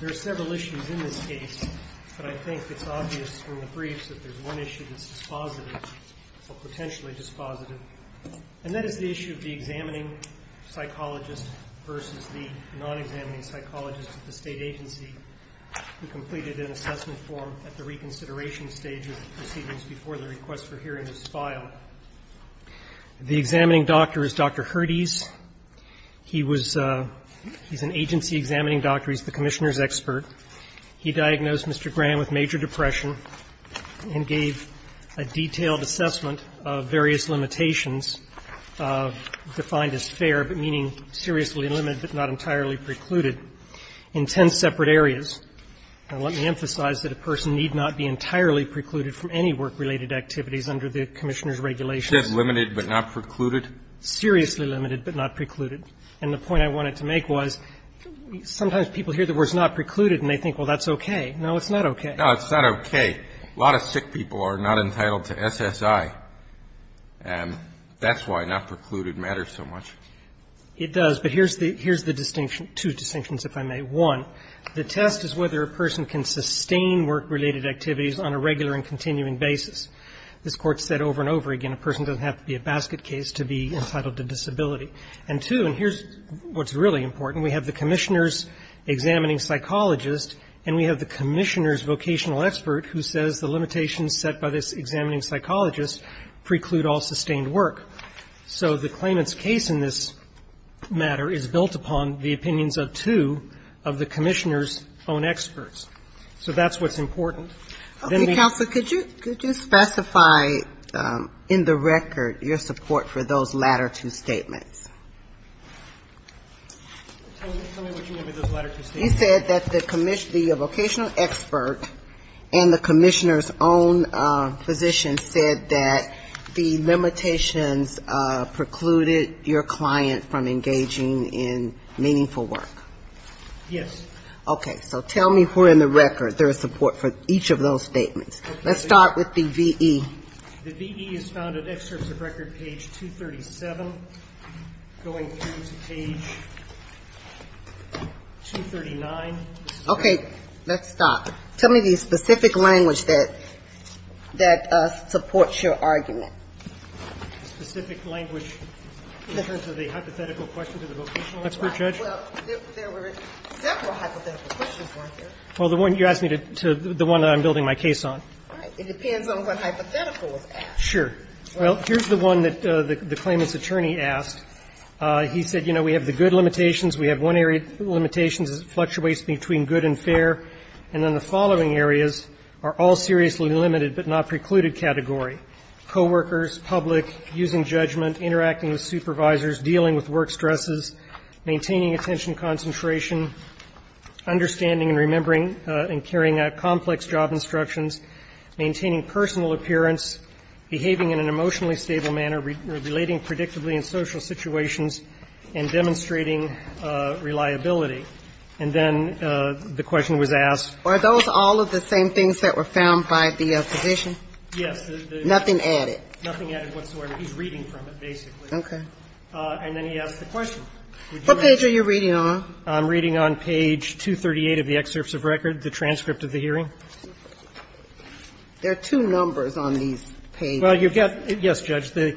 There are several issues in this case, but I think it's obvious from the briefs that there's one issue that's dispositive, or potentially dispositive. And that is the issue of the examining psychologist versus the non-examining psychologist at the state agency who completed an assessment form at the reconsideration stage of the proceedings before the request for hearing is filed. The examining doctor is Dr. Herdes. He was an agency examining doctor. He's the commissioner's expert. He diagnosed Mr. Graham with major depression and gave a detailed assessment of various limitations, defined as fair but meaning seriously limited but not entirely precluded, in ten separate areas. Now, let me emphasize that a person need not be entirely precluded from any work-related activities under the commissioner's regulations. Kennedy Just limited but not precluded? Astrue Seriously limited but not precluded. And the point I wanted to make was sometimes people hear the words not precluded and they think, well, that's okay. No, it's not okay. Kennedy No, it's not okay. A lot of sick people are not entitled to SSI, and that's why not precluded matters so much. Astrue It does. But here's the distinction, two distinctions, if I may. One, the test is whether a person can sustain work-related activities on a regular and continuing basis. This Court said over and over again a person doesn't have to be a basket case to be entitled to disability. And two, and here's what's really important, we have the commissioner's examining psychologist and we have the commissioner's vocational expert who says the limitations set by this examining psychologist preclude all sustained work. So the claimant's case in this matter is built upon the opinions of two of the commissioner's own experts. So that's what's important. Ginsburg Okay, counsel, could you specify in the record your support for those latter two statements? Astrue Tell me what you mean by those latter two statements. Ginsburg You said that the vocational expert and the commissioner's own physician said that the limitations precluded your client from engaging in meaningful work. Astrue Yes. Ginsburg Okay. So tell me where in the record there is support for each of those statements. Let's start with the V.E. The V.E. is found in excerpts of record page 237 going through to page 239. Ginsburg Okay. Let's stop. Tell me the specific language that supports your argument. Astrue The specific language in terms of the hypothetical question to the vocational expert. Ginsburg Well, there were several hypothetical questions weren't there? Astrue Well, the one you asked me to, the one that I'm building my case on. Ginsburg All right. It depends on what hypothetical was asked. Astrue Sure. Well, here's the one that the claimant's attorney asked. He said, you know, we have the good limitations, we have one area of limitations that fluctuates between good and fair, and then the following areas are all seriously limited but not precluded category. Coworkers, public, using judgment, interacting with supervisors, dealing with work stresses, maintaining attention concentration, understanding and remembering and carrying out complex job instructions, maintaining personal appearance, behaving in an emotionally stable manner, relating predictably in social situations, and demonstrating reliability. And then the question was asked. Ginsburg Are those all of the same things that were found by the physician? Astrue Yes. Ginsburg Nothing added. Astrue Nothing added whatsoever. He's reading from it, basically. Ginsburg Okay. Astrue And then he asked the question. Ginsburg What page are you reading on? Astrue I'm reading on page 238 of the excerpts of record, the transcript of the hearing. Ginsburg There are two numbers on these pages. Astrue Well, you've got to get, yes, Judge. The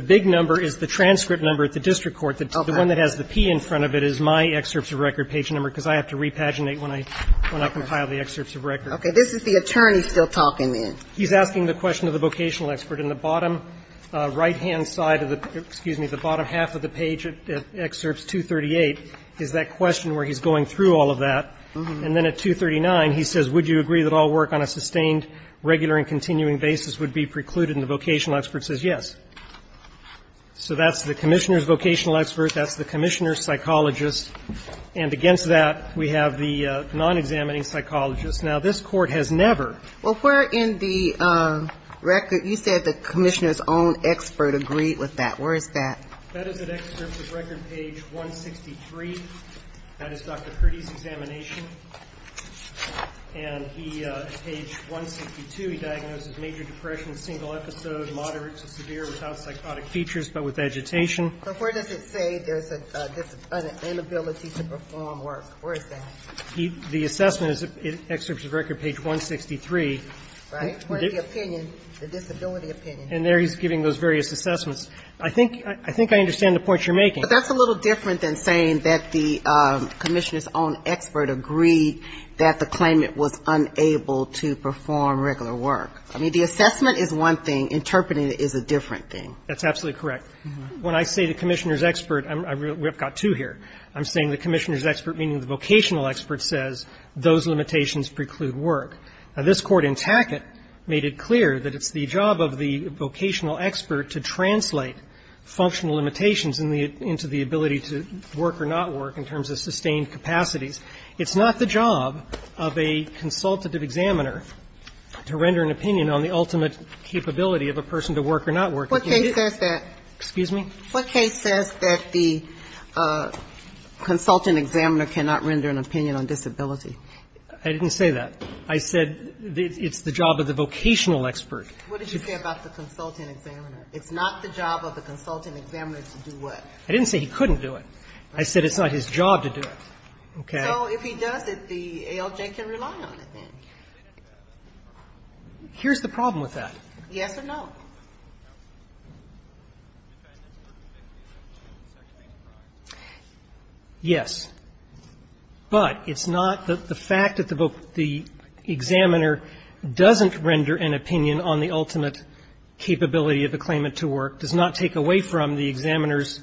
big number is the transcript number at the district court. Ginsburg Okay. Astrue The one that has the P in front of it is my excerpts of record page number, because I have to repaginate when I compile the excerpts of record. Ginsburg Okay. This is the attorney still talking, then. Astrue He's asking the question of the vocational expert. And the bottom right-hand side of the, excuse me, the bottom half of the page at excerpts 238 is that question where he's going through all of that. And then at 239, he says, would you agree that all work on a sustained, regular and continuing basis would be precluded? And the vocational expert says yes. So that's the commissioner's vocational expert. That's the commissioner's psychologist. And against that, we have the non-examining psychologist. Now, this Court has never ---- The commissioner's own expert agreed with that. Where is that? That is at excerpts of record page 163. That is Dr. Purdy's examination. And he, page 162, he diagnosed with major depression, single episode, moderate to severe without psychotic features, but with agitation. Ginsburg So where does it say there's an inability to perform work? Where is that? Astrue The assessment is at excerpts of record page 163. Ginsburg Right. The point of the opinion, the disability opinion. Astrue And there he's giving those various assessments. I think I understand the point you're making. Ginsburg But that's a little different than saying that the commissioner's own expert agreed that the claimant was unable to perform regular work. I mean, the assessment is one thing. Interpreting it is a different thing. Astrue That's absolutely correct. When I say the commissioner's expert, we've got two here. I'm saying the commissioner's expert, meaning the vocational expert, says those limitations preclude work. Now, this Court in Tackett made it clear that it's the job of the vocational expert to translate functional limitations into the ability to work or not work in terms of sustained capacities. It's not the job of a consultative examiner to render an opinion on the ultimate capability of a person to work or not work. Ginsburg What case says that? Astrue Excuse me? Ginsburg What case says that the consultant examiner cannot render an opinion on disability? Astrue I didn't say that. I said it's the job of the vocational expert. Ginsburg What did you say about the consultant examiner? It's not the job of the consultant examiner to do what? Astrue I didn't say he couldn't do it. I said it's not his job to do it. Okay? Ginsburg So if he does it, the ALJ can rely on it then? Astrue Here's the problem with that. Ginsburg Yes or no? Astrue Yes. But it's not that the fact that the examiner doesn't render an opinion on the ultimate capability of a claimant to work does not take away from the examiner's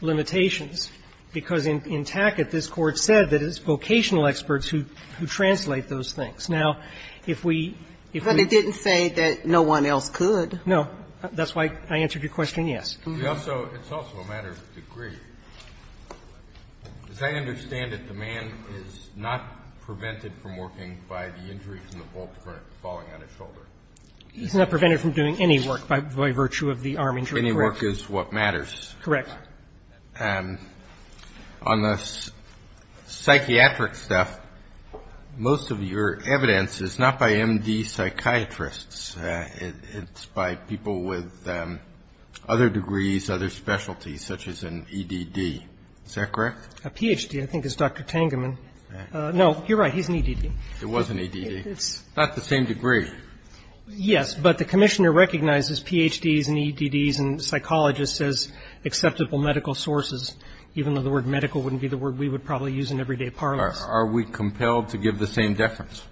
limitations, because in Tackett, this Court said that it's vocational experts who translate those things. Now, if we ---- Ginsburg But it didn't say that no one else could. Astrue No. That's why I answered your question, yes. Kennedy It's also a matter of degree. As I understand it, the man is not prevented from working by the injuries and the bolt falling on his shoulder. Astrue He's not prevented from doing any work by virtue of the arm injury. Kennedy Any work is what matters. Astrue Correct. Kennedy On the psychiatric stuff, most of your evidence is not by M.D. psychiatrists. It's by people with other degrees, other specialties, such as an E.D.D. Is that correct? Astrue A Ph.D., I think, is Dr. Tangeman. No, you're right. He's an E.D.D. Kennedy It was an E.D.D. It's not the same degree. Astrue Yes, but the commissioner recognizes Ph.D.s and E.D.D.s and psychologists as acceptable medical sources, even though the word medical wouldn't be the word we would probably use in everyday parlance. Kennedy Are we compelled to give the same deference?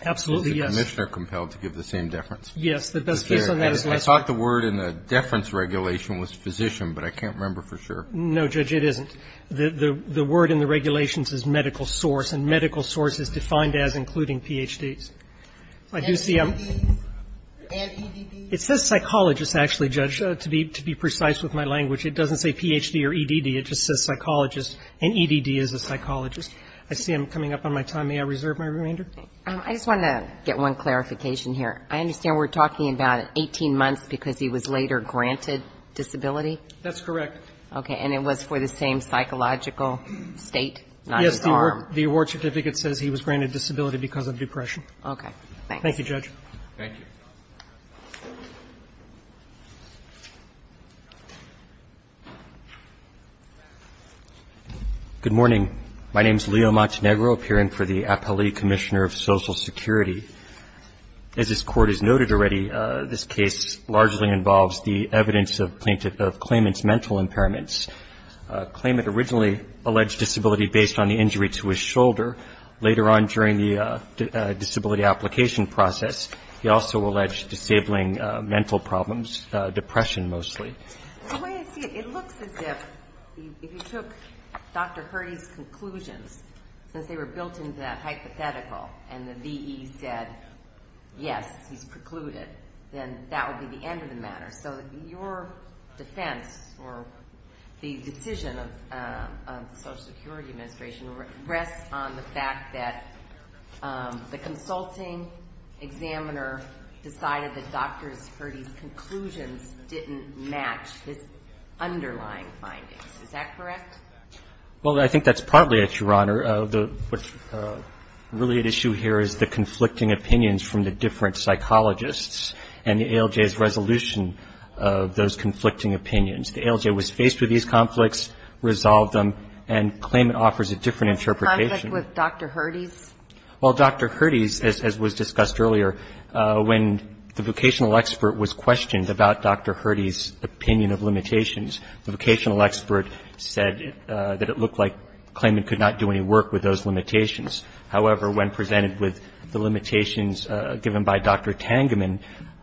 Astrue Absolutely, yes. Kennedy I thought the word in the deference regulation was physician, but I can't remember for sure. Astrue No, Judge, it isn't. The word in the regulations is medical source, and medical source is defined as including Ph.D.s. I do see a ---- Kennedy And E.D.D. Astrue It says psychologist, actually, Judge, to be precise with my language. It doesn't say Ph.D. or E.D.D. It just says psychologist, and E.D.D. is a psychologist. I see I'm coming up on my time. May I reserve my remainder? Ginsburg I just wanted to get one clarification here. I understand we're talking about 18 months because he was later granted disability? Astrue That's correct. Ginsburg Okay. And it was for the same psychological state? Astrue Yes. The award certificate says he was granted disability because of depression. Ginsburg Okay. Thank you. Astrue Thank you, Judge. Roberts Good morning. My name is Leo Montenegro, appearing for the Appellate Commissioner of Social Security. As this Court has noted already, this case largely involves the evidence of plaintiff of claimant's mental impairments. Claimant originally alleged disability based on the injury to his shoulder. Later on during the disability application process, he also alleged disabling mental problems, depression mostly. The way I see it, it looks as if if you took Dr. Hurdy's conclusions, since they were built into that hypothetical and the V.E. said yes, he's precluded, then that would be the end of the matter. So your defense or the decision of the Social Security Administration rests on the fact that the consulting examiner decided that Dr. Hurdy's conclusions didn't match his underlying findings. Is that correct? Montenegro Well, I think that's partly it, Your Honor. Really at issue here is the conflicting opinions from the different psychologists and the ALJ's resolution of those conflicting opinions. The ALJ was faced with these conflicts, resolved them, and claimant offers a different interpretation. Conflict with Dr. Hurdy's? Well, Dr. Hurdy's, as was discussed earlier, when the vocational expert was questioned about Dr. Hurdy's opinion of limitations, the vocational expert said that it looked like claimant could not do any work with those limitations. However, when presented with the limitations given by Dr. Tangeman,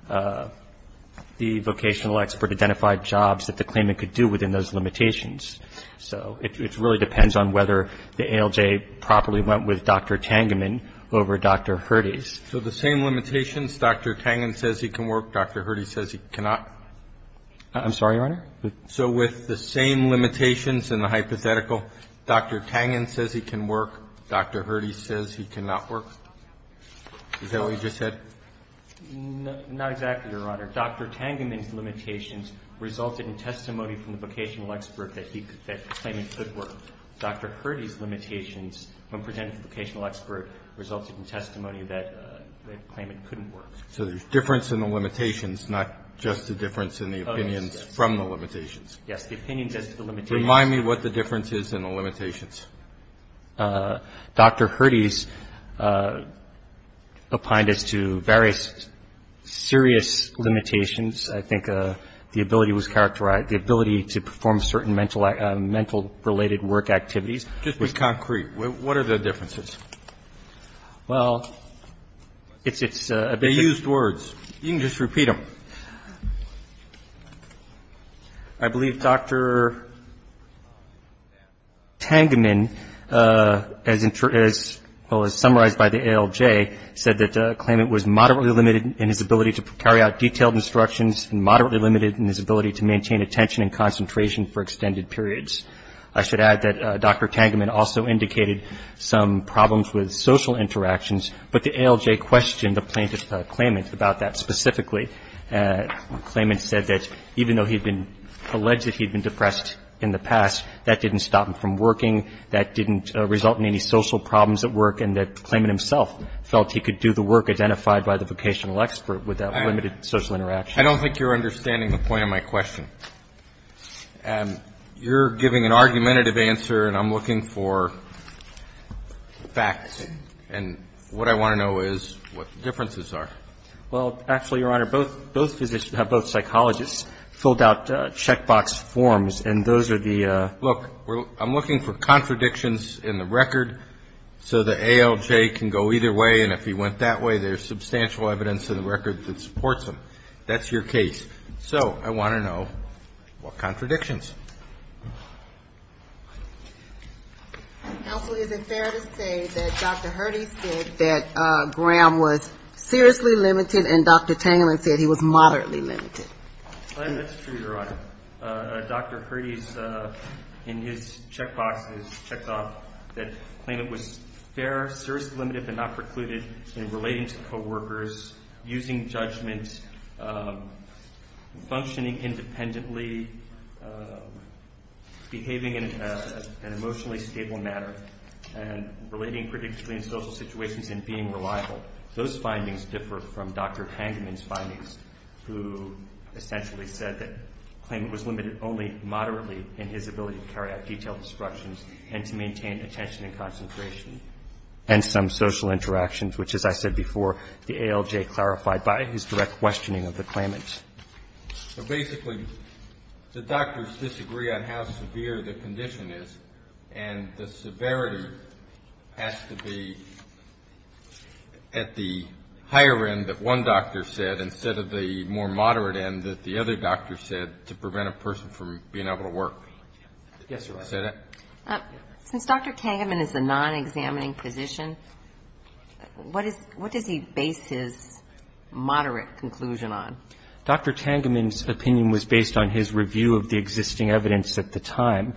the vocational expert identified jobs that the claimant could do within those limitations. So it really depends on whether the ALJ properly went with Dr. Tangeman over Dr. Hurdy's. So the same limitations, Dr. Tangeman says he can work, Dr. Hurdy says he cannot? I'm sorry, Your Honor? So with the same limitations and the hypothetical, Dr. Tangeman says he can work, Dr. Hurdy says he cannot work? Is that what you just said? Not exactly, Your Honor. Dr. Tangeman's limitations resulted in testimony from the vocational expert that claimant could work. Dr. Hurdy's limitations, when presented to the vocational expert, resulted in testimony that claimant couldn't work. So there's difference in the limitations, not just the difference in the opinions from the limitations? Yes, the opinions as to the limitations. Remind me what the difference is in the limitations. Dr. Hurdy's opined as to various serious limitations. I think the ability was characterized, the ability to perform certain mental related work activities. Just be concrete. What are the differences? Well, it's a bit of a ---- They used words. You can just repeat them. I believe Dr. Tangeman, as summarized by the ALJ, said that claimant was moderately limited in his ability to carry out detailed instructions and moderately limited in his ability to maintain attention and concentration for extended periods. I should add that Dr. Tangeman also indicated some problems with social interactions, but the ALJ questioned the plaintiff's claimant about that specifically. Claimant said that even though he had been alleged that he had been depressed in the past, that didn't stop him from working, that didn't result in any social problems at work, and that claimant himself felt he could do the work identified by the vocational expert without limited social interaction. I don't think you're understanding the point of my question. You're giving an argumentative answer, and I'm looking for facts. And what I want to know is what the differences are. Well, actually, Your Honor, both physicians, both psychologists, filled out checkbox forms, and those are the ---- Look, I'm looking for contradictions in the record so the ALJ can go either way, and if he went that way, there's substantial evidence in the record that supports him. That's your case. So I want to know what contradictions. Counsel, is it fair to say that Dr. Hurdy said that Graham was seriously limited and Dr. Tangerman said he was moderately limited? That's true, Your Honor. Dr. Hurdy, in his checkboxes, checked off that claimant was fair, seriously limited, but not precluded in relating to coworkers, using judgment, functioning independently, behaving in an emotionally stable manner, and relating predictably in social situations and being reliable. Those findings differ from Dr. Tangerman's findings, who essentially said that the claimant was limited only moderately in his ability to carry out detailed instructions and to maintain attention and concentration and some social interactions, which, as I said before, the ALJ clarified by his direct questioning of the claimant. So basically, the doctors disagree on how severe the condition is, and the severity has to be at the higher end that one doctor said instead of the more moderate end that the other doctor said to prevent a person from being able to work. Yes, Your Honor. Is that it? Since Dr. Tangerman is a non-examining physician, what does he base his moderate conclusion on? Dr. Tangerman's opinion was based on his review of the existing evidence at the time,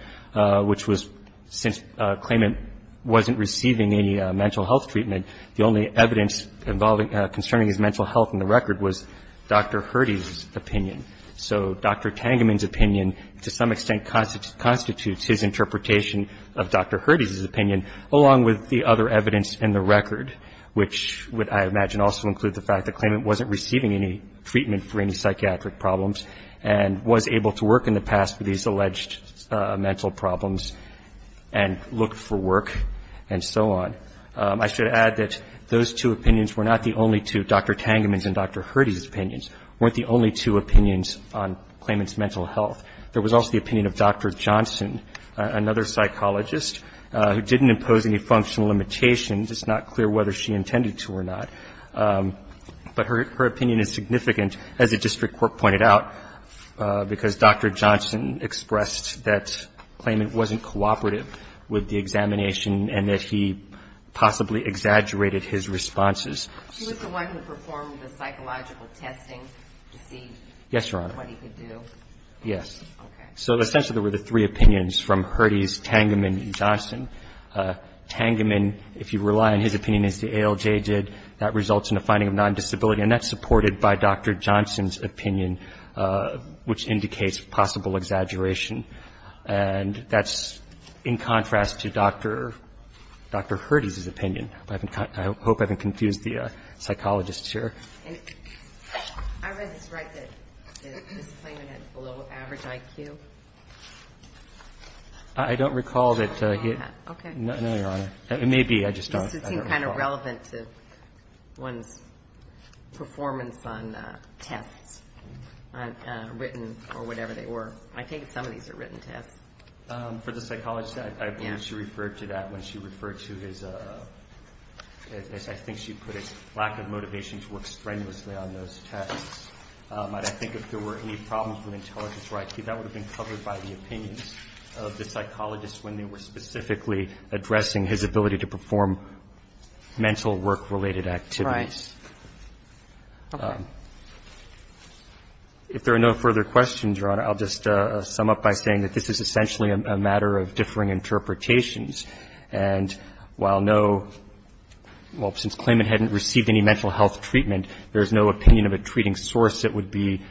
which was since a claimant wasn't receiving any mental health treatment, the only evidence concerning his mental health in the record was Dr. Hurdy's opinion. So Dr. Tangerman's opinion, to some extent, constitutes his interpretation of Dr. Hurdy's opinion, along with the other evidence in the record, which I imagine would also include the fact the claimant wasn't receiving any treatment for any psychiatric problems and was able to work in the past with these alleged mental problems and look for work and so on. I should add that those two opinions were not the only two, Dr. Tangerman's and Dr. Hurdy's opinions, weren't the only two opinions on claimant's mental health. There was also the opinion of Dr. Johnson, another psychologist, who didn't impose any functional limitations. It's not clear whether she intended to or not. But her opinion is significant, as the district court pointed out, because Dr. Johnson expressed that claimant wasn't cooperative with the examination and that he possibly exaggerated his responses. She was the one who performed the psychological testing to see what he could do. Yes, Your Honor. Okay. So essentially there were the three opinions from Hurdy's, Tangerman, and Johnson. Tangerman, if you rely on his opinion, as the ALJ did, that results in a finding of non-disability, and that's supported by Dr. Johnson's opinion, which indicates possible exaggeration. And that's in contrast to Dr. Hurdy's opinion. I hope I haven't confused the psychologists here. I read this right that this claimant had below-average IQ. I don't recall that he had. Okay. No, Your Honor. It may be. I just don't recall. This would seem kind of relevant to one's performance on tests, written or whatever they were. I take it some of these are written tests. For the psychologist, I believe she referred to that when she referred to his, I think she put his lack of motivation to work strenuously on those tests. I think if there were any problems with intelligence or IQ, that would have been covered by the opinions of the psychologist when they were specifically addressing his ability to perform mental work-related activities. Right. Okay. If there are no further questions, Your Honor, I'll just sum up by saying that this is essentially a matter of differing interpretations. And while no – well, since claimant hadn't received any mental health treatment, and there's no opinion of a treating source that would be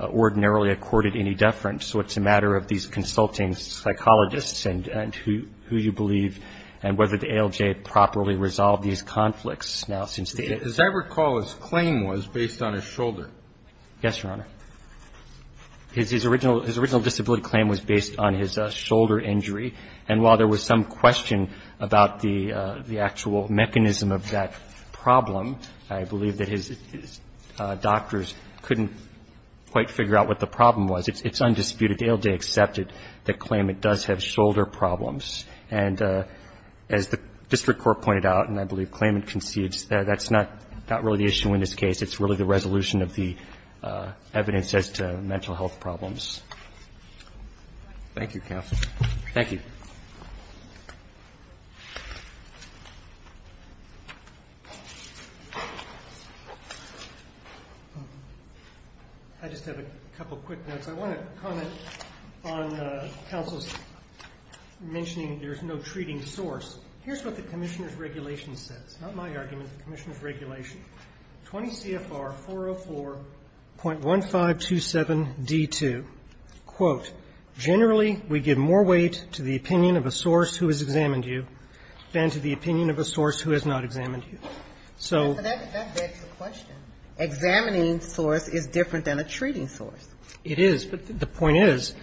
ordinarily accorded any deference, so it's a matter of these consulting psychologists and who you believe and whether the ALJ properly resolved these conflicts now since they did. As I recall, his claim was based on his shoulder. Yes, Your Honor. His original disability claim was based on his shoulder injury. And while there was some question about the actual mechanism of that problem, I believe that his doctors couldn't quite figure out what the problem was. It's undisputed. The ALJ accepted that claimant does have shoulder problems. And as the district court pointed out, and I believe claimant concedes, that's not really the issue in this case. It's really the resolution of the evidence as to mental health problems. Thank you, counsel. Thank you. Thank you. I just have a couple of quick notes. I want to comment on counsel's mentioning there's no treating source. Here's what the commissioner's regulation says, not my argument, the commissioner's regulation. 20 CFR 404.1527D2. Quote, generally we give more weight to the opinion of a source who has examined you than to the opinion of a source who has not examined you. So that begs the question. Examining source is different than a treating source. It is. But the point is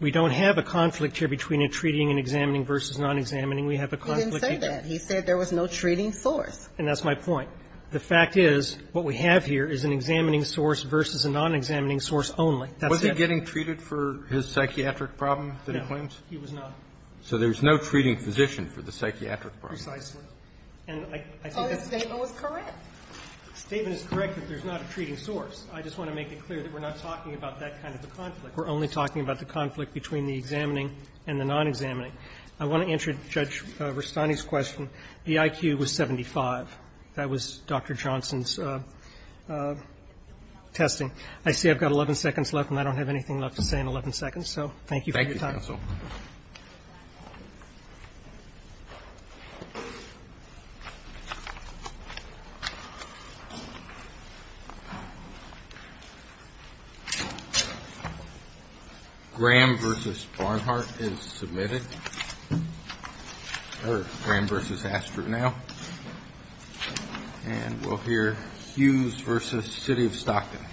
we don't have a conflict here between a treating and examining versus non-examining. We have a conflict here. He didn't say that. He said there was no treating source. And that's my point. The fact is what we have here is an examining source versus a non-examining source only. That's it. Was he getting treated for his psychiatric problem that he claims? No. He was not. So there's no treating physician for the psychiatric problem. Precisely. And I think that's correct. The statement is correct that there's not a treating source. I just want to make it clear that we're not talking about that kind of a conflict. We're only talking about the conflict between the examining and the non-examining. I want to answer Judge Rustani's question. The IQ was 75. That was Dr. Johnson's testing. I see I've got 11 seconds left, and I don't have anything left to say in 11 seconds. So thank you for your time. Thank you, counsel. Graham v. Barnhart is submitted. Graham v. Astro now. And we'll hear Hughes v. City of Stockton.